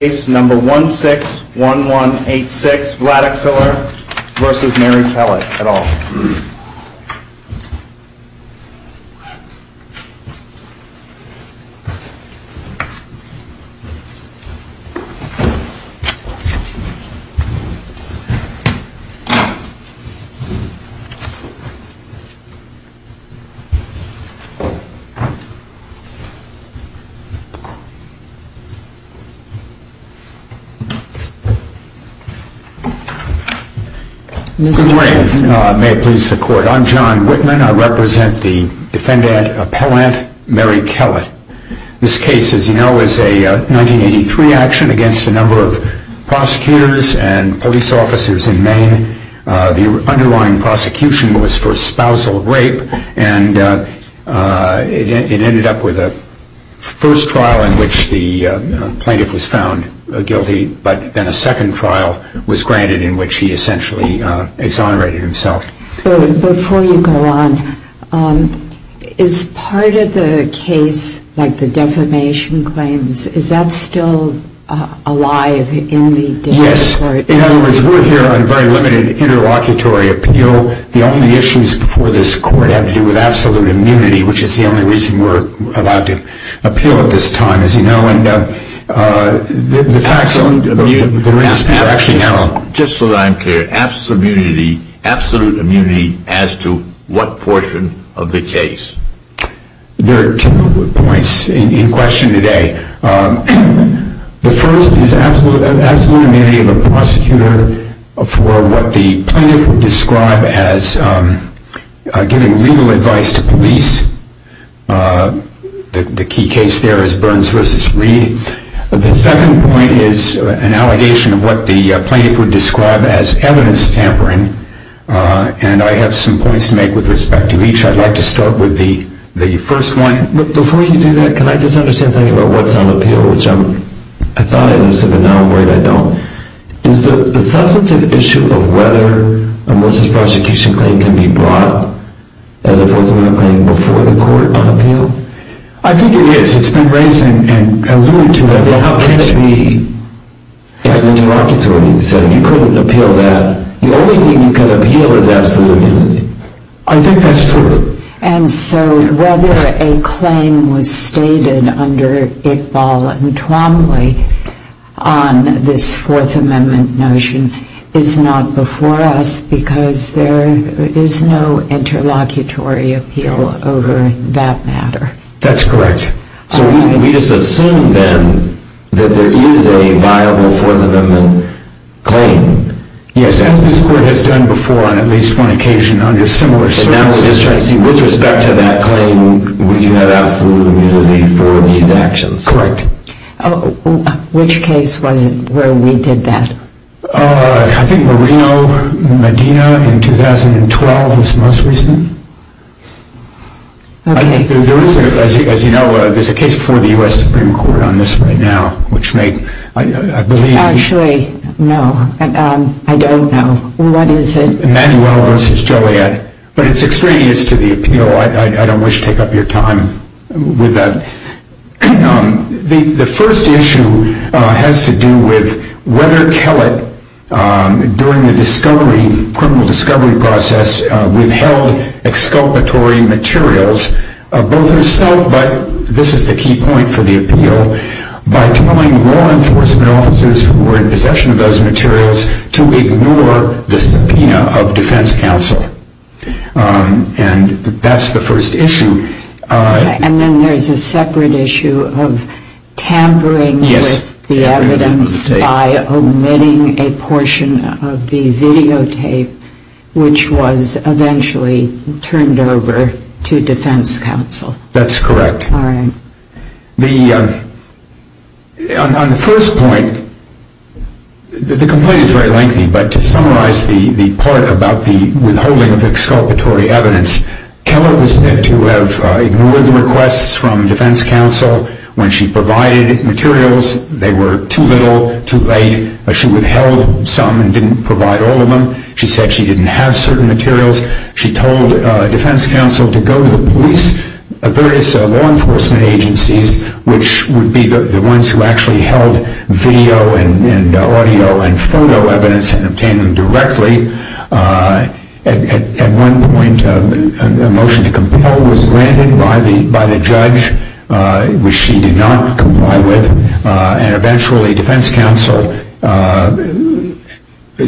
Case number 161186, Vladeck-Filler v. Mary Kellet et al. Good morning. May it please the court. I'm John Whitman. I represent the defendant appellant, Mary Kellet. This case, as you know, is a 1983 action against a number of prosecutors and police officers in Maine. The underlying prosecution was for spousal rape, and it ended up with a first trial in which the plaintiff was found guilty, but then a second trial was granted in which he essentially exonerated himself. Before you go on, is part of the case, like the defamation claims, is that still alive in the district court? Yes. In other words, we're here on very limited interlocutory appeal. So the only issues before this court have to do with absolute immunity, which is the only reason we're allowed to appeal at this time, as you know. Just so that I'm clear, absolute immunity as to what portion of the case? There are two points in question today. The first is absolute immunity of a prosecutor for what the plaintiff would describe as giving legal advice to police. The key case there is Burns v. Reed. The second point is an allegation of what the plaintiff would describe as evidence tampering, and I have some points to make with respect to each. I'd like to start with the first one. Before you do that, can I just understand something about what's on appeal, which I thought I understood, but now I'm worried I don't. Is the substantive issue of whether a most prosecution claim can be brought as a Fourth Amendment claim before the court on appeal? I think it is. It's been raised and alluded to. How can't we have interlocutory? You said you couldn't appeal that. The only thing you can appeal is absolute immunity. I think that's true. And so whether a claim was stated under Iqbal and Twombly on this Fourth Amendment notion is not before us because there is no interlocutory appeal over that matter. That's correct. So we just assume then that there is a viable Fourth Amendment claim. Yes, as this court has done before on at least one occasion under similar circumstances. And I was just trying to see with respect to that claim, would you have absolute immunity for these actions? Correct. Which case was it where we did that? I think Moreno-Medina in 2012 was the most recent. Okay. As you know, there's a case before the U.S. Supreme Court on this right now, which made, I believe... Actually, no. I don't know. What is it? Manuel v. Joliet. But it's extraneous to the appeal. I don't wish to take up your time with that. The first issue has to do with whether Kellett, during the criminal discovery process, withheld exculpatory materials, both herself, but this is the key point for the appeal, by telling law enforcement officers who were in possession of those materials to ignore the subpoena of defense counsel. And that's the first issue. And then there's a separate issue of tampering with the evidence by omitting a portion of the videotape, which was eventually turned over to defense counsel. That's correct. All right. On the first point, the complaint is very lengthy, but to summarize the part about the withholding of exculpatory evidence, Kellett was said to have ignored the requests from defense counsel when she provided materials. They were too little, too late. She withheld some and didn't provide all of them. She said she didn't have certain materials. She told defense counsel to go to the police, various law enforcement agencies, which would be the ones who actually held video and audio and photo evidence and obtain them directly. At one point, a motion to compel was granted by the judge, which she did not comply with, and eventually defense counsel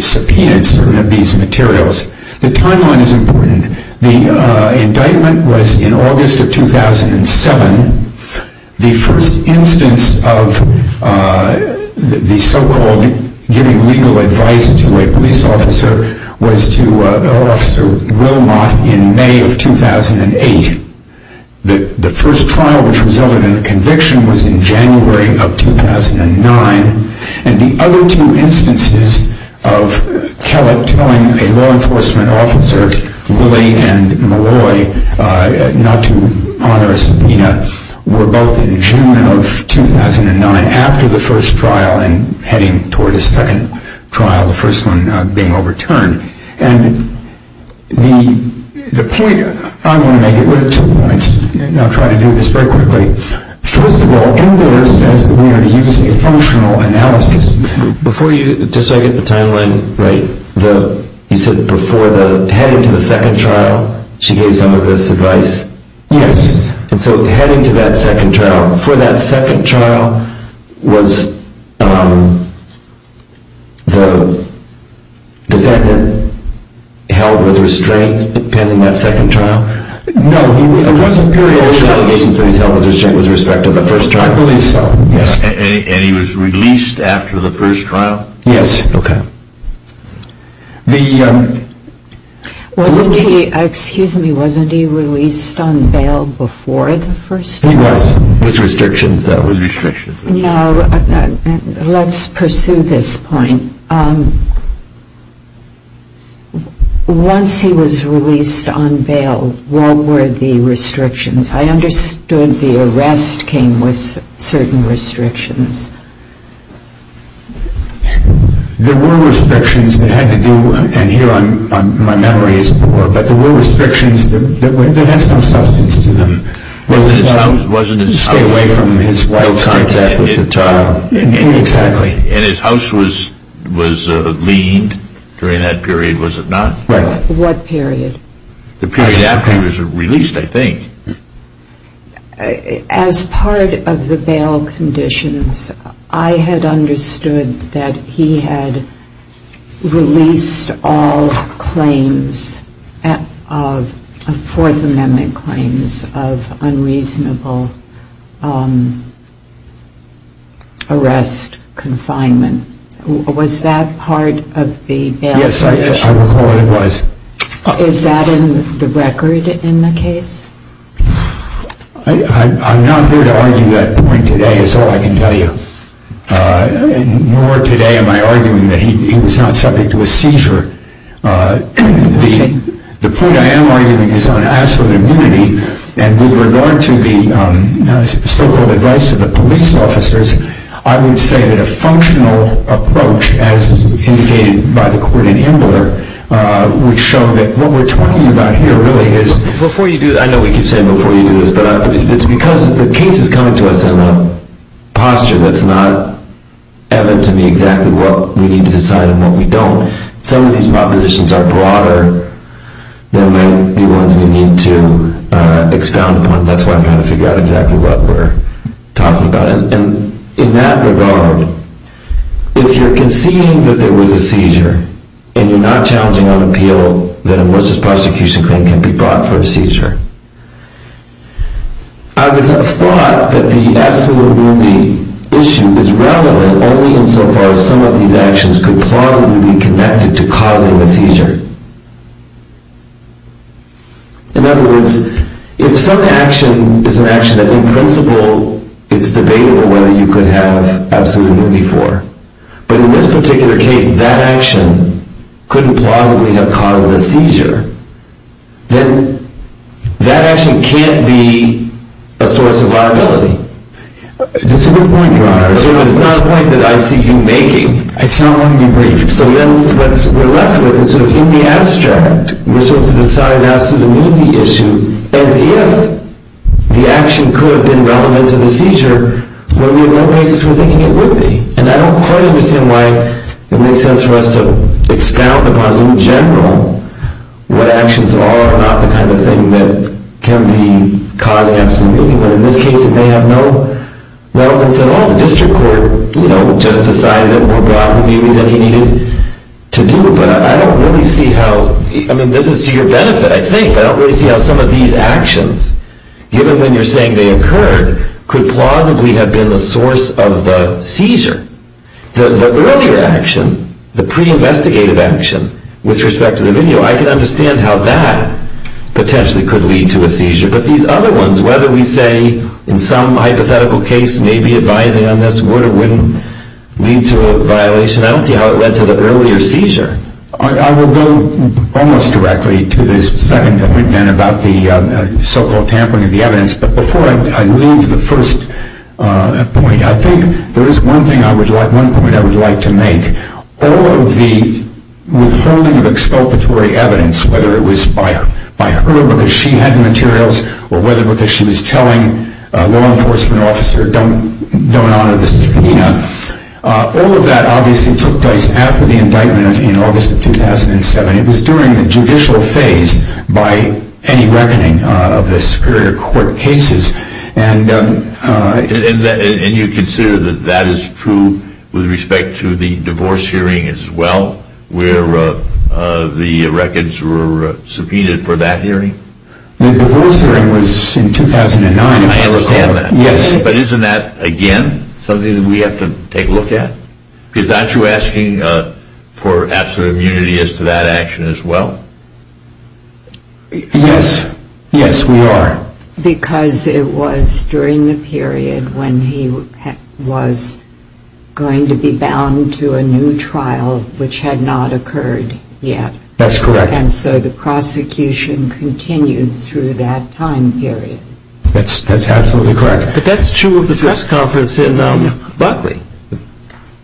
subpoenaed some of these materials. The timeline is important. The indictment was in August of 2007. The first instance of the so-called giving legal advice to a police officer was to Officer Wilmot in May of 2008. The first trial, which resulted in a conviction, was in January of 2009. And the other two instances of Kellett telling a law enforcement officer, Willie and Malloy, not to honor a subpoena, were both in June of 2009 after the first trial and heading toward a second trial, the first one being overturned. And the point, I'm going to make it with two points, and I'll try to do this very quickly. First of all, in there it says that we are using a functional analysis. Before you, just so I get the timeline right, you said before heading to the second trial, she gave some of this advice? Yes. And so heading to that second trial, before that second trial, was the defendant held with restraint depending on that second trial? No. There were allegations that he was held with restraint with respect to the first trial. I believe so. And he was released after the first trial? Yes. Okay. Wasn't he, excuse me, wasn't he released on bail before the first trial? He was, with restrictions though. With restrictions. No, let's pursue this point. Once he was released on bail, what were the restrictions? I understood the arrest came with certain restrictions. There were restrictions that had to do, and here my memory is poor, but there were restrictions that had some substance to them. Stay away from his wife's contact with the child. Exactly. And his house was leaned during that period, was it not? Right. What period? The period after he was released, I think. As part of the bail conditions, I had understood that he had released all claims of Fourth Amendment claims of unreasonable arrest, confinement. Was that part of the bail conditions? Yes, I recall it was. Is that in the record in the case? I'm not here to argue that point today is all I can tell you, nor today am I arguing that he was not subject to a seizure. The point I am arguing is on absolute immunity, and with regard to the so-called advice to the police officers, I would say that a functional approach, as indicated by the court in Ambler, would show that what we're talking about here really is Before you do, I know we keep saying before you do this, but it's because the case is coming to us in a posture that's not evident to me exactly what we need to decide and what we don't. Some of these propositions are broader than may be ones we need to expound upon. That's why I'm trying to figure out exactly what we're talking about. In that regard, if you're conceding that there was a seizure, and you're not challenging on appeal, then a versus prosecution claim can be brought for a seizure. I would have thought that the absolute immunity issue is relevant only insofar as some of these actions could plausibly be connected to causing a seizure. In other words, if some action is an action that, in principle, it's debatable whether you could have absolute immunity for, but in this particular case, that action couldn't plausibly have caused the seizure, then that action can't be a source of liability. That's a good point, Your Honor. It's not a point that I see you making. I just want to be brief. So what we're left with is, in the abstract, we're supposed to decide an absolute immunity issue as if the action could have been relevant to the seizure, when we have no basis for thinking it would be. And I don't quite understand why it makes sense for us to expound upon, in general, what actions are, are not the kind of thing that can be causing absolute immunity. But in this case, it may have no relevance at all. The district court, you know, just decided it or brought the immunity that he needed to do it. But I don't really see how, I mean, this is to your benefit, I think, but I don't really see how some of these actions, given when you're saying they occurred, could plausibly have been the source of the seizure. The earlier action, the pre-investigative action, with respect to the video, I can understand how that potentially could lead to a seizure. But these other ones, whether we say, in some hypothetical case, maybe advising on this would or wouldn't lead to a violation, I don't see how it led to the earlier seizure. I will go almost directly to the second point, then, about the so-called tampering of the evidence. But before I leave the first point, I think there is one thing I would like, one point I would like to make. All of the withholding of exculpatory evidence, whether it was by her, because she had materials, or whether because she was telling a law enforcement officer, don't honor the subpoena, all of that obviously took place after the indictment in August of 2007. It was during the judicial phase by any reckoning of the superior court cases. And you consider that that is true with respect to the divorce hearing as well, where the records were subpoenaed for that hearing? The divorce hearing was in 2009. I understand that. Yes. But isn't that, again, something that we have to take a look at? Because aren't you asking for absolute immunity as to that action as well? Yes. Yes, we are. Because it was during the period when he was going to be bound to a new trial, which had not occurred yet. That's correct. And so the prosecution continued through that time period. That's absolutely correct. But that's true of the press conference in Buckley.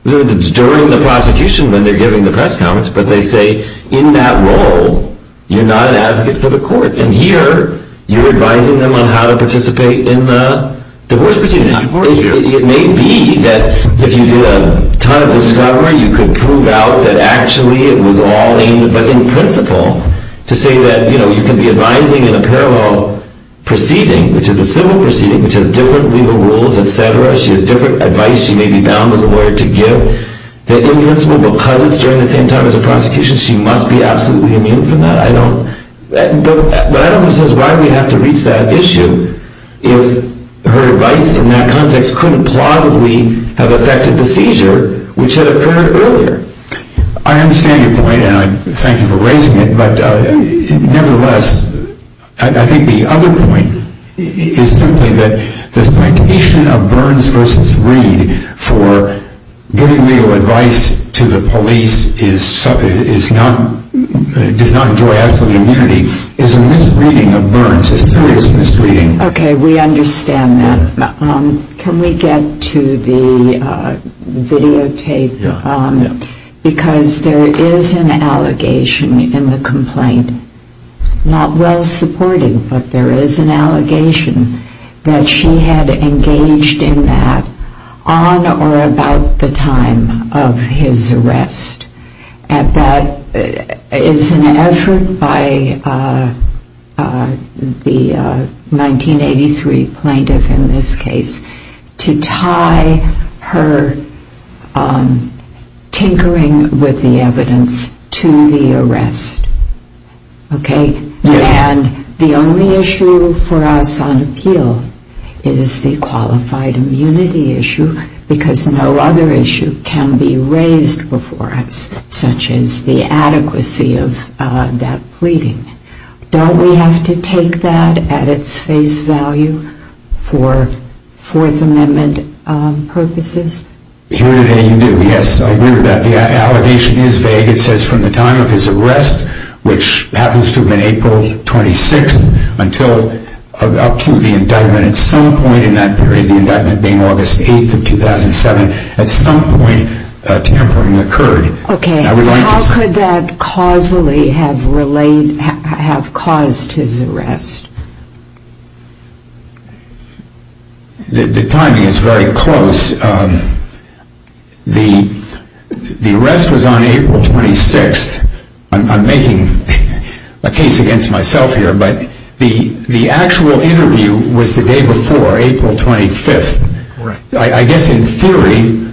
During the prosecution, when they're giving the press conference, but they say in that role, you're not an advocate for the court. And here, you're advising them on how to participate in the divorce proceeding. It may be that if you did a ton of discovery, you could prove out that actually it was all aimed, but in principle, to say that you can be advising in a parallel proceeding, which is a civil proceeding, which has different legal rules, et cetera. She has different advice she may be bound as a lawyer to give. That in principle, because it's during the same time as the prosecution, she must be absolutely immune from that. But I don't understand why we have to reach that issue if her advice in that context couldn't plausibly have affected the seizure, which had occurred earlier. I understand your point, and I thank you for raising it. But nevertheless, I think the other point is simply that the citation of Burns v. Reed for giving legal advice to the police does not draw absolute immunity. It's a misreading of Burns. It's a serious misreading. Okay, we understand that. Can we get to the videotape? Because there is an allegation in the complaint, not well supported, but there is an allegation that she had engaged in that on or about the time of his arrest. That is an effort by the 1983 plaintiff in this case to tie her tinkering with the evidence to the arrest. Okay? And the only issue for us on appeal is the qualified immunity issue because no other issue can be raised before us, such as the adequacy of that pleading. Don't we have to take that at its face value for Fourth Amendment purposes? Here today, you do. Yes, I agree with that. The allegation is vague. It says from the time of his arrest, which happens to have been April 26th, up to the indictment at some point in that period, the indictment being August 8th of 2007, at some point tampering occurred. Okay, how could that causally have caused his arrest? The timing is very close. The arrest was on April 26th. I'm making a case against myself here, but the actual interview was the day before, April 25th. I guess in theory,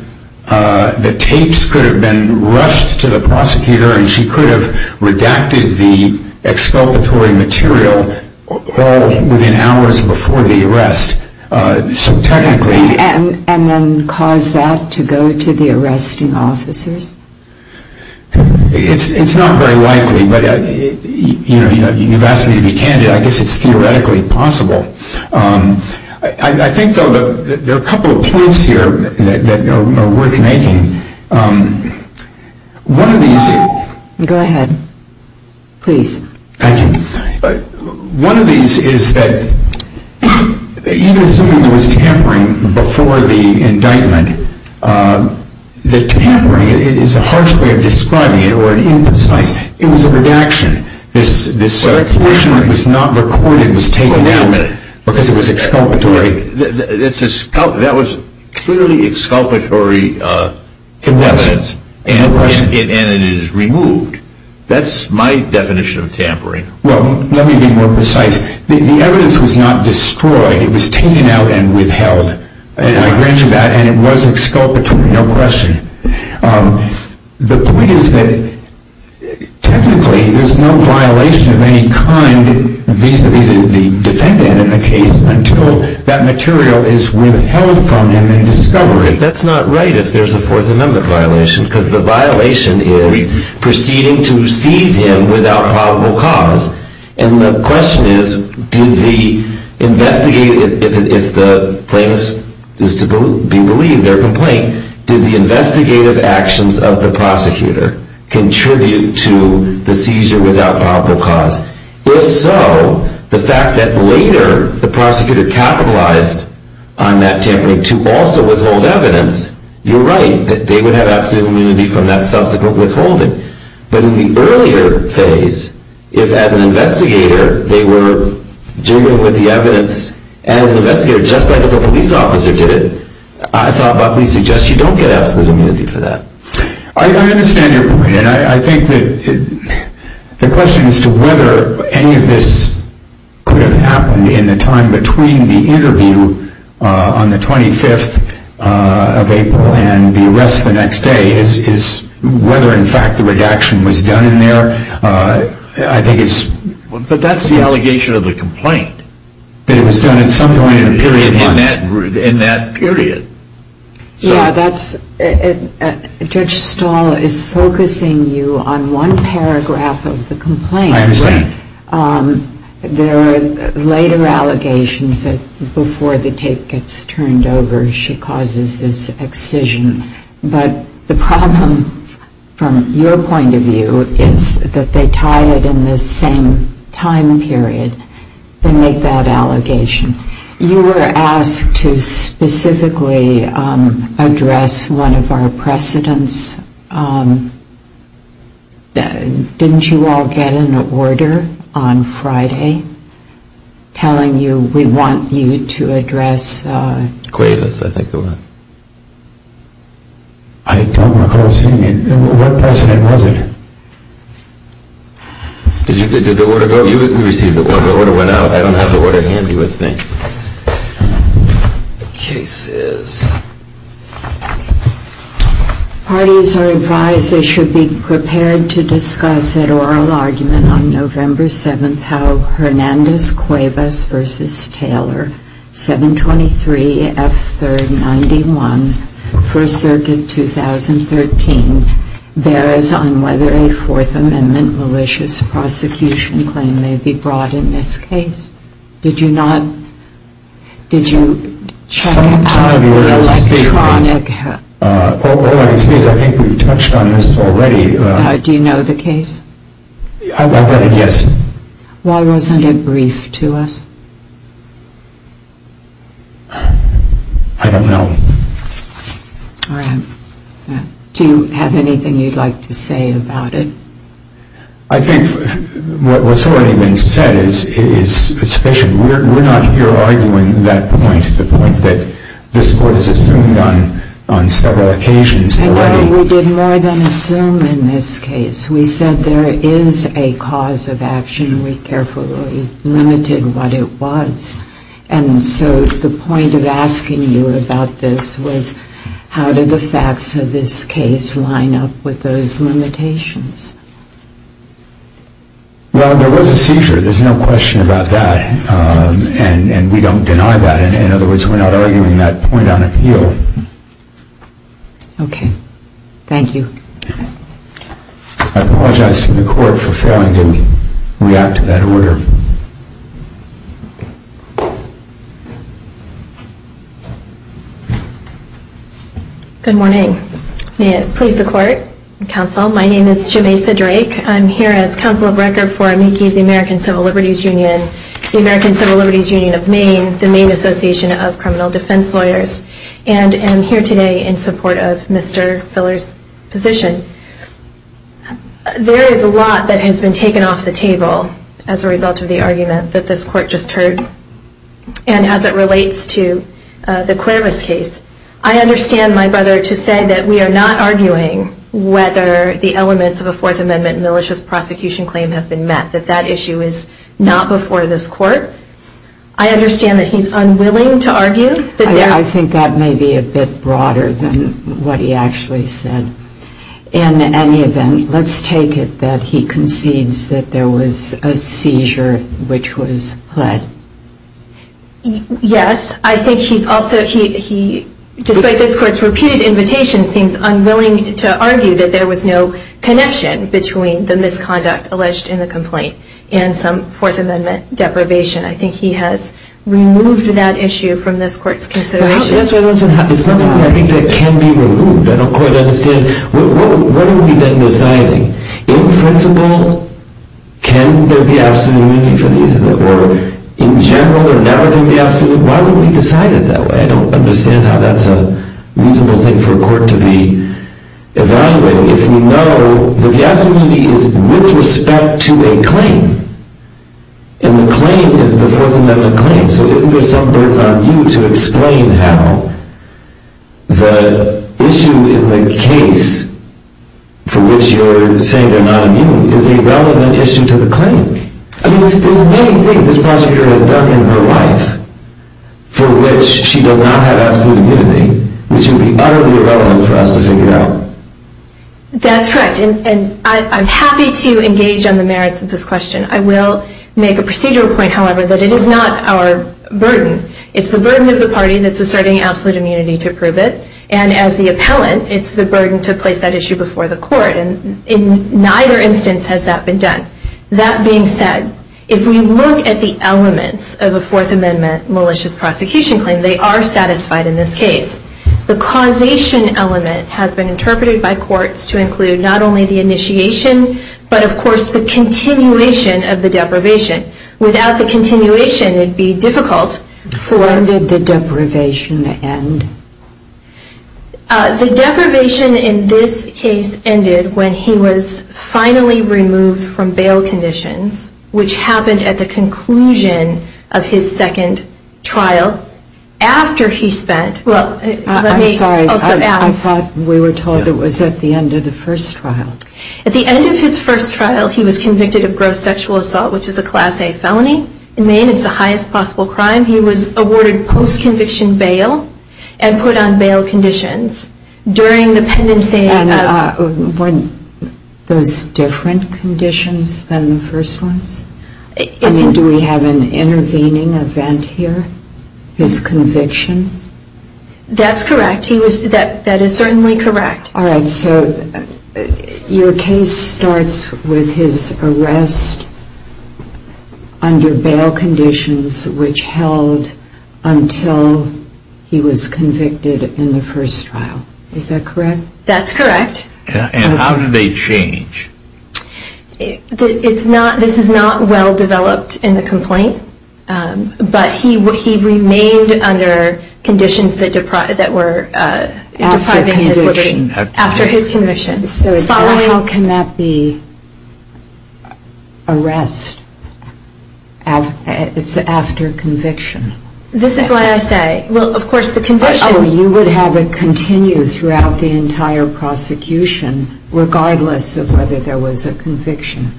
the tapes could have been rushed to the prosecutor and she could have redacted the exculpatory material all within hours before the arrest. And then cause that to go to the arresting officers? It's not very likely, but you've asked me to be candid. I guess it's theoretically possible. I think, though, there are a couple of points here that are worth making. One of these is that even assuming there was tampering before the indictment, the tampering is a harsh way of describing it, or an imprecise. It was a redaction. The circulation that was not recorded was taken down because it was exculpatory. That was clearly exculpatory evidence, and it is removed. That's my definition of tampering. Well, let me be more precise. The evidence was not destroyed. It was taken out and withheld. I grant you that, and it was exculpatory, no question. The point is that technically there's no violation of any kind vis-à-vis the defendant in the case until that material is withheld from him and discovered. That's not right if there's a Fourth Amendment violation because the violation is proceeding to seize him without probable cause. And the question is, if the plaintiff is to be believed, their complaint, did the investigative actions of the prosecutor contribute to the seizure without probable cause? If so, the fact that later the prosecutor capitalized on that tampering to also withhold evidence, you're right that they would have absolute immunity from that subsequent withholding. But in the earlier phase, if as an investigator they were dealing with the evidence, and as an investigator, just like if a police officer did it, I thought it probably suggests you don't get absolute immunity for that. I understand your point, and I think that the question as to whether any of this could have happened in the time between the interview on the 25th of April and the arrest the next day is whether in fact the redaction was done in there. I think it's... But that's the allegation of the complaint. That it was done at some point in a period of time. In that period. Yeah, Judge Stahl is focusing you on one paragraph of the complaint. I understand. There are later allegations that before the tape gets turned over, she causes this excision. But the problem from your point of view is that they tie it in the same time period. They make that allegation. You were asked to specifically address one of our precedents. Didn't you all get an order on Friday telling you we want you to address... Cuevas, I think it was. I don't recall seeing it. What precedent was it? You received the order. The order went out. I don't have the order handy with me. The case is... Parties are advised they should be prepared to discuss an oral argument on November 7th Do you know how Hernandez-Cuevas v. Taylor, 723 F. 3rd 91, 1st Circuit, 2013, bears on whether a Fourth Amendment malicious prosecution claim may be brought in this case? Did you not... Did you check out the electronic... I think we've touched on this already. Do you know the case? I've read it, yes. Why wasn't it briefed to us? I don't know. Do you have anything you'd like to say about it? I think what's already been said is sufficient. We're not here arguing that point, the point that this court has assumed on several occasions already. We did more than assume in this case. We said there is a cause of action. We carefully limited what it was. And so the point of asking you about this was how did the facts of this case line up with those limitations? Well, there was a seizure. There's no question about that. And we don't deny that. In other words, we're not arguing that point on appeal. Okay. Thank you. I apologize to the court for failing to react to that order. Good morning. May it please the court and counsel, my name is Jamesa Drake. I'm here as counsel of record for AMICI, the American Civil Liberties Union, and the American Civil Liberties Union of Maine, the Maine Association of Criminal Defense Lawyers. And I'm here today in support of Mr. Filler's position. There is a lot that has been taken off the table as a result of the argument that this court just heard. And as it relates to the Cuervas case, I understand, my brother, to say that we are not arguing whether the elements of a Fourth Amendment malicious prosecution claim have been met, that that issue is not before this court. I understand that he's unwilling to argue. I think that may be a bit broader than what he actually said. In any event, let's take it that he concedes that there was a seizure which was pled. Yes. I think he's also, despite this court's repeated invitation, seems unwilling to argue that there was no connection between the misconduct alleged in the complaint and some Fourth Amendment deprivation. I think he has removed that issue from this court's consideration. It's not something I think that can be removed. I don't quite understand. What are we then deciding? In principle, can there be absolute immunity for the use of it? Or in general, or now there can be absolute? Why would we decide it that way? I don't understand how that's a reasonable thing for a court to be evaluating if we know that the absolute immunity is with respect to a claim, and the claim is the Fourth Amendment claim. So isn't there some burden on you to explain how the issue in the case for which you're saying they're not immune is a relevant issue to the claim? I mean, there's many things this prosecutor has done in her life for which she does not have absolute immunity, which would be utterly irrelevant for us to figure out. That's correct, and I'm happy to engage on the merits of this question. I will make a procedural point, however, that it is not our burden. It's the burden of the party that's asserting absolute immunity to prove it, and as the appellant, it's the burden to place that issue before the court, and in neither instance has that been done. That being said, if we look at the elements of a Fourth Amendment malicious prosecution claim, they are satisfied in this case. The causation element has been interpreted by courts to include not only the initiation, but of course the continuation of the deprivation. Without the continuation, it would be difficult. When did the deprivation end? The deprivation in this case ended when he was finally removed from bail conditions, which happened at the conclusion of his second trial after he spent... I'm sorry, I thought we were told it was at the end of the first trial. At the end of his first trial, he was convicted of gross sexual assault, which is a Class A felony. In Maine, it's the highest possible crime. At the time, he was awarded post-conviction bail and put on bail conditions. During the pendency of... And were those different conditions than the first ones? I mean, do we have an intervening event here? His conviction? That's correct. That is certainly correct. All right, so your case starts with his arrest under bail conditions, which held until he was convicted in the first trial. Is that correct? That's correct. And how did they change? This is not well developed in the complaint, but he remained under conditions that were depriving his liberty after his conviction. So how can that be arrest after conviction? This is what I say. Well, of course, the conviction... Oh, you would have it continue throughout the entire prosecution, regardless of whether there was a conviction.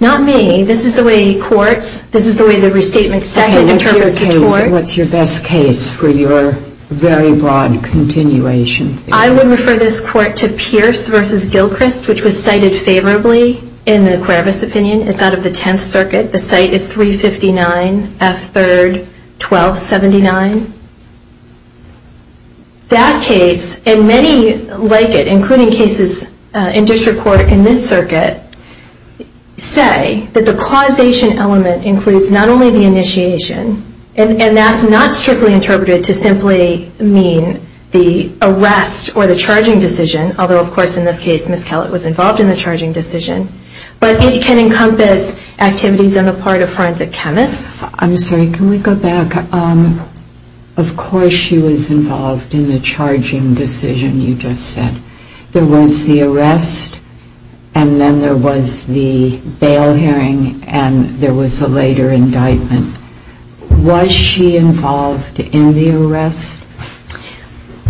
Not me. This is the way courts... This is the way the restatement second interprets the tort. What's your best case for your very broad continuation? I would refer this court to Pierce v. Gilchrist, which was cited favorably in the Kravitz opinion. It's out of the Tenth Circuit. The site is 359 F. 3rd, 1279. That case, and many like it, including cases in district court in this circuit, say that the causation element includes not only the initiation, and that's not strictly interpreted to simply mean the arrest or the charging decision, although, of course, in this case, Ms. Kellett was involved in the charging decision, but it can encompass activities on the part of forensic chemists. I'm sorry. Can we go back? Of course she was involved in the charging decision you just said. There was the arrest, and then there was the bail hearing, and there was a later indictment. Was she involved in the arrest?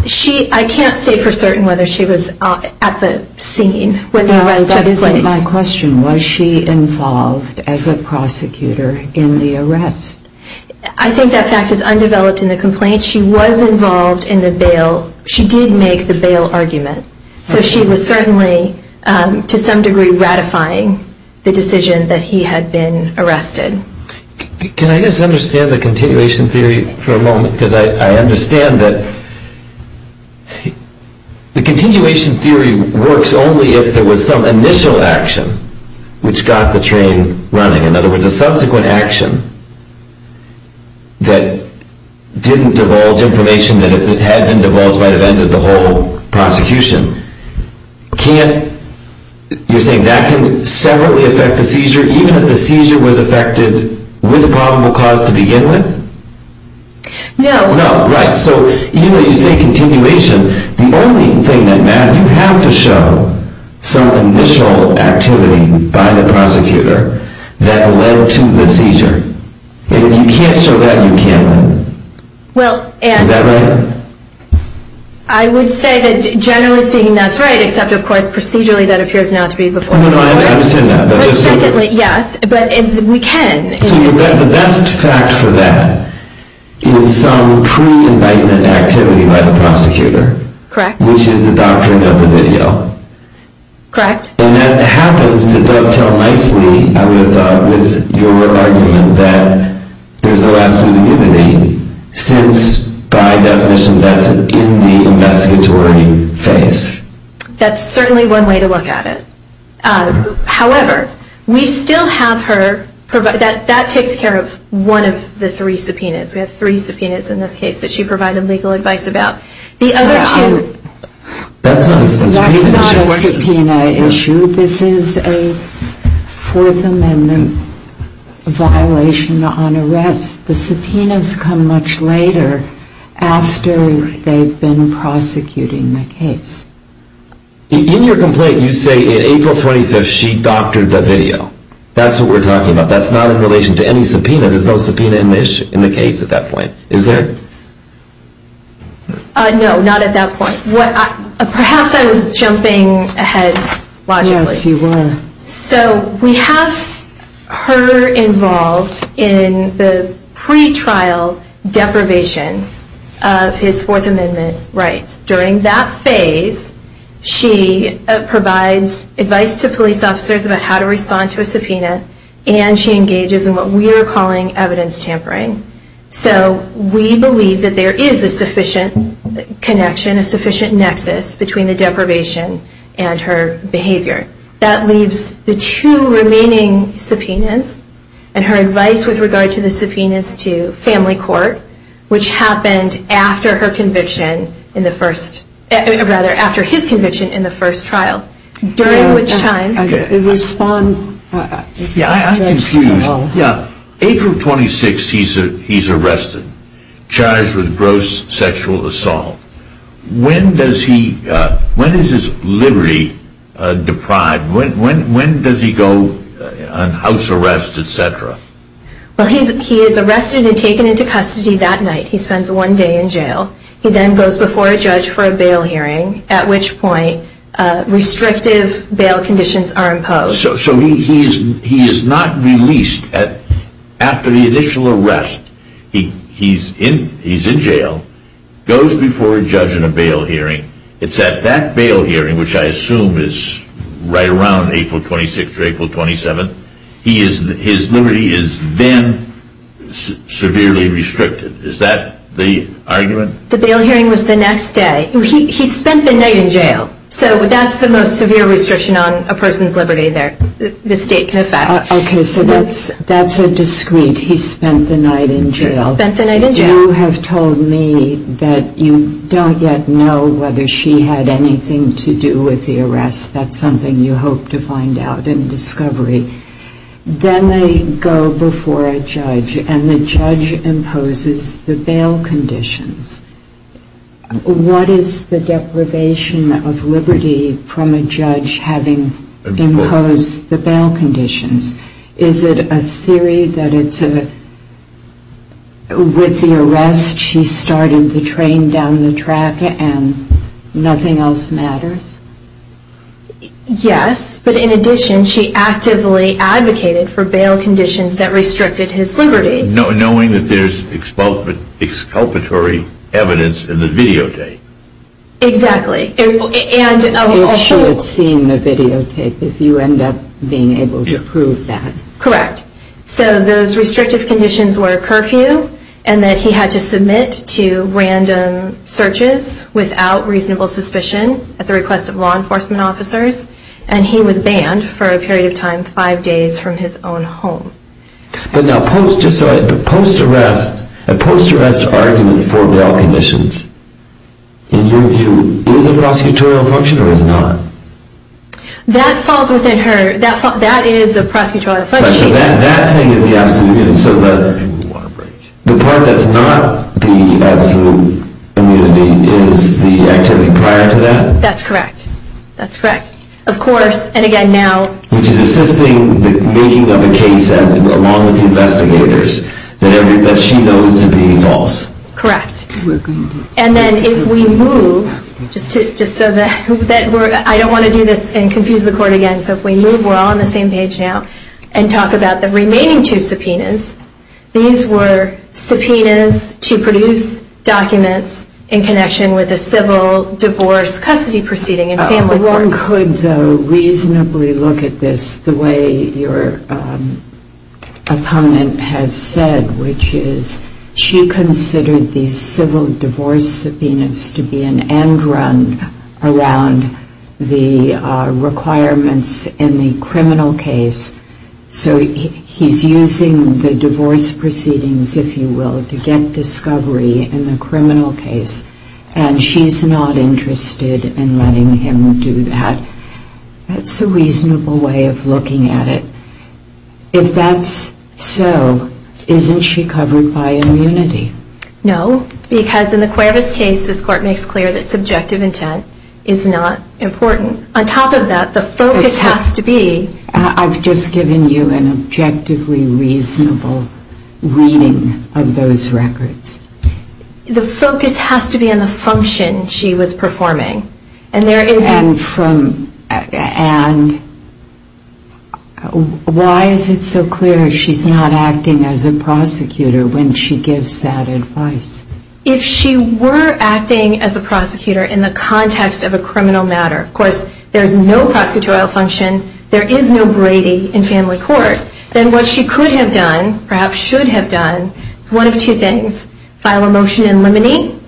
I can't say for certain whether she was at the scene when the arrest took place. That isn't my question. Was she involved as a prosecutor in the arrest? I think that fact is undeveloped in the complaint. She was involved in the bail. She did make the bail argument. So she was certainly, to some degree, ratifying the decision that he had been arrested. Can I just understand the continuation theory for a moment? Because I understand that the continuation theory works only if there was some initial action which got the train running, in other words, a subsequent action that didn't divulge information, that if it had been divulged might have ended the whole prosecution. You're saying that can separately affect the seizure, even if the seizure was affected with a probable cause to begin with? No. No, right. So even if you say continuation, the only thing that matters, you have to show some initial activity by the prosecutor that led to the seizure. If you can't show that, you can't. Is that right? I would say that generally speaking, that's right, except, of course, procedurally that appears not to be the case. I understand that. But secondly, yes, we can. So the best fact for that is some pre-indictment activity by the prosecutor, which is the doctrine of the video. And that happens to dovetail nicely, I would have thought, with your argument that there's no absolute unity, since, by definition, that's in the investigatory phase. That's certainly one way to look at it. However, we still have her, that takes care of one of the three subpoenas. We have three subpoenas in this case that she provided legal advice about. The other two, that's not a subpoena issue. This is a Fourth Amendment violation on arrest. The subpoenas come much later after they've been prosecuting the case. In your complaint, you say, in April 25th, she doctored the video. That's what we're talking about. That's not in relation to any subpoena. There's no subpoena in the case at that point. Is there? No, not at that point. Perhaps I was jumping ahead logically. Yes, you were. So we have her involved in the pre-trial deprivation of his Fourth Amendment rights. During that phase, she provides advice to police officers about how to respond to a subpoena, and she engages in what we are calling evidence tampering. So we believe that there is a sufficient connection, a sufficient nexus between the deprivation and her behavior. That leaves the two remaining subpoenas, and her advice with regard to the subpoenas to family court, which happened after her conviction in the first – rather, after his conviction in the first trial, during which time… Yes, I'm confused. April 26th, he's arrested, charged with gross sexual assault. When does he – when is his liberty deprived? When does he go on house arrest, et cetera? Well, he is arrested and taken into custody that night. He spends one day in jail. He then goes before a judge for a bail hearing, at which point restrictive bail conditions are imposed. So he is not released after the initial arrest. He's in jail, goes before a judge in a bail hearing. It's at that bail hearing, which I assume is right around April 26th or April 27th, his liberty is then severely restricted. Is that the argument? The bail hearing was the next day. He spent the night in jail. So that's the most severe restriction on a person's liberty there, the state can affect. Okay, so that's a discrete, he spent the night in jail. He spent the night in jail. You have told me that you don't yet know whether she had anything to do with the arrest. That's something you hope to find out in discovery. Then they go before a judge, and the judge imposes the bail conditions. What is the deprivation of liberty from a judge having imposed the bail conditions? Is it a theory that it's a, with the arrest she started the train down the track and nothing else matters? Yes, but in addition she actively advocated for bail conditions that restricted his liberty. Knowing that there's exculpatory evidence in the videotape. Exactly. You should have seen the videotape if you end up being able to prove that. Correct. So those restrictive conditions were a curfew, and that he had to submit to random searches without reasonable suspicion at the request of law enforcement officers, and he was banned for a period of time five days from his own home. But now post-arrest, a post-arrest argument for bail conditions, in your view, is a prosecutorial function or is not? That falls within her, that is a prosecutorial function. So that thing is the absolute immunity. So the part that's not the absolute immunity is the activity prior to that? That's correct, that's correct. Of course, and again now. Which is assisting the making of a case along with the investigators that she knows to be false. Correct. And then if we move, just so that we're, I don't want to do this and confuse the court again, so if we move we're all on the same page now, and talk about the remaining two subpoenas. These were subpoenas to produce documents in connection with a civil divorce custody proceeding. One could, though, reasonably look at this the way your opponent has said, which is she considered the civil divorce subpoenas to be an end run around the requirements in the criminal case. So he's using the divorce proceedings, if you will, to get discovery in the criminal case, and she's not interested in letting him do that. That's a reasonable way of looking at it. If that's so, isn't she covered by immunity? No, because in the Cuervas case, this court makes clear that subjective intent is not important. On top of that, the focus has to be. I've just given you an objectively reasonable reading of those records. The focus has to be on the function she was performing. And why is it so clear she's not acting as a prosecutor when she gives that advice? If she were acting as a prosecutor in the context of a criminal matter, of course there's no prosecutorial function, there is no Brady in family court, then what she could have done, perhaps should have done, is one of two things. File a motion in limine,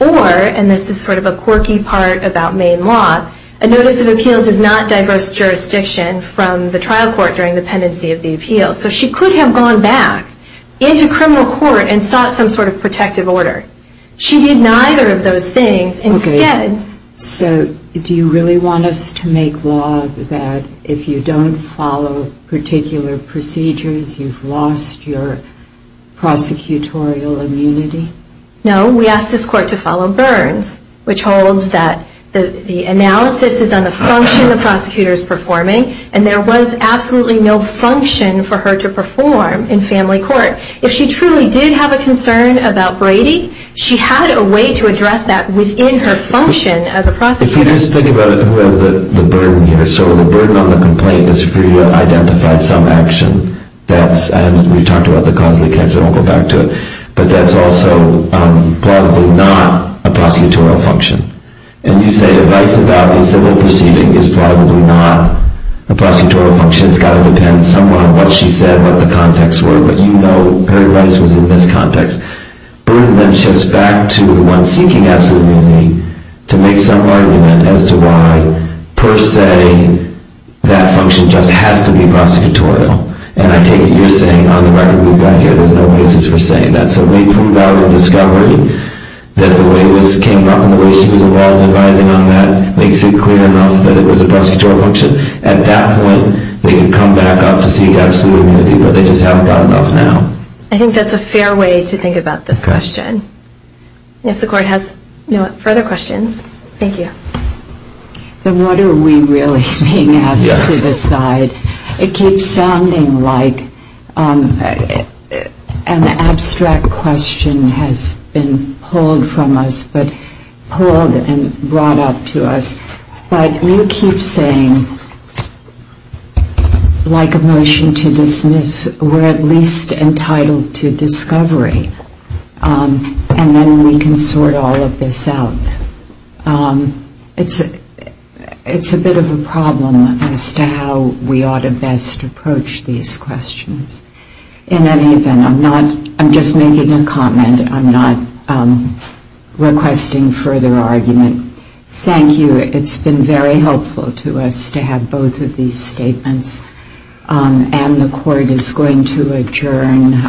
or, and this is sort of a quirky part about Maine law, a notice of appeal does not diverse jurisdiction from the trial court during the pendency of the appeal. So she could have gone back into criminal court and sought some sort of protective order. She did neither of those things. So do you really want us to make law that if you don't follow particular procedures, you've lost your prosecutorial immunity? No, we ask this court to follow Burns, which holds that the analysis is on the function the prosecutor is performing, and there was absolutely no function for her to perform in family court. If she truly did have a concern about Brady, she had a way to address that within her function as a prosecutor. If you just think about it, who has the burden here? So the burden on the complaint is for you to identify some action, and we've talked about the cause of the case, I won't go back to it, but that's also plausibly not a prosecutorial function. And you say advice about a civil proceeding is plausibly not a prosecutorial function, it's got to depend somewhat on what she said, what the context were, but you know her advice was in this context. Burden then shifts back to one seeking absolute immunity to make some argument as to why, per se, that function just has to be prosecutorial. And I take it you're saying on the record we've got here there's no basis for saying that. So we prove our discovery that the way this came up and the way she was involved in advising on that makes it clear enough that it was a prosecutorial function. At that point, they can come back up to seek absolute immunity, but they just haven't got enough now. I think that's a fair way to think about this question. If the court has no further questions, thank you. Then what are we really being asked to decide? It keeps sounding like an abstract question has been pulled from us, and brought up to us, but you keep saying, like a motion to dismiss, we're at least entitled to discovery, and then we can sort all of this out. It's a bit of a problem as to how we ought to best approach these questions. In any event, I'm just making a comment. I'm not requesting further argument. Thank you. It's been very helpful to us to have both of these statements, and the court is going to adjourn.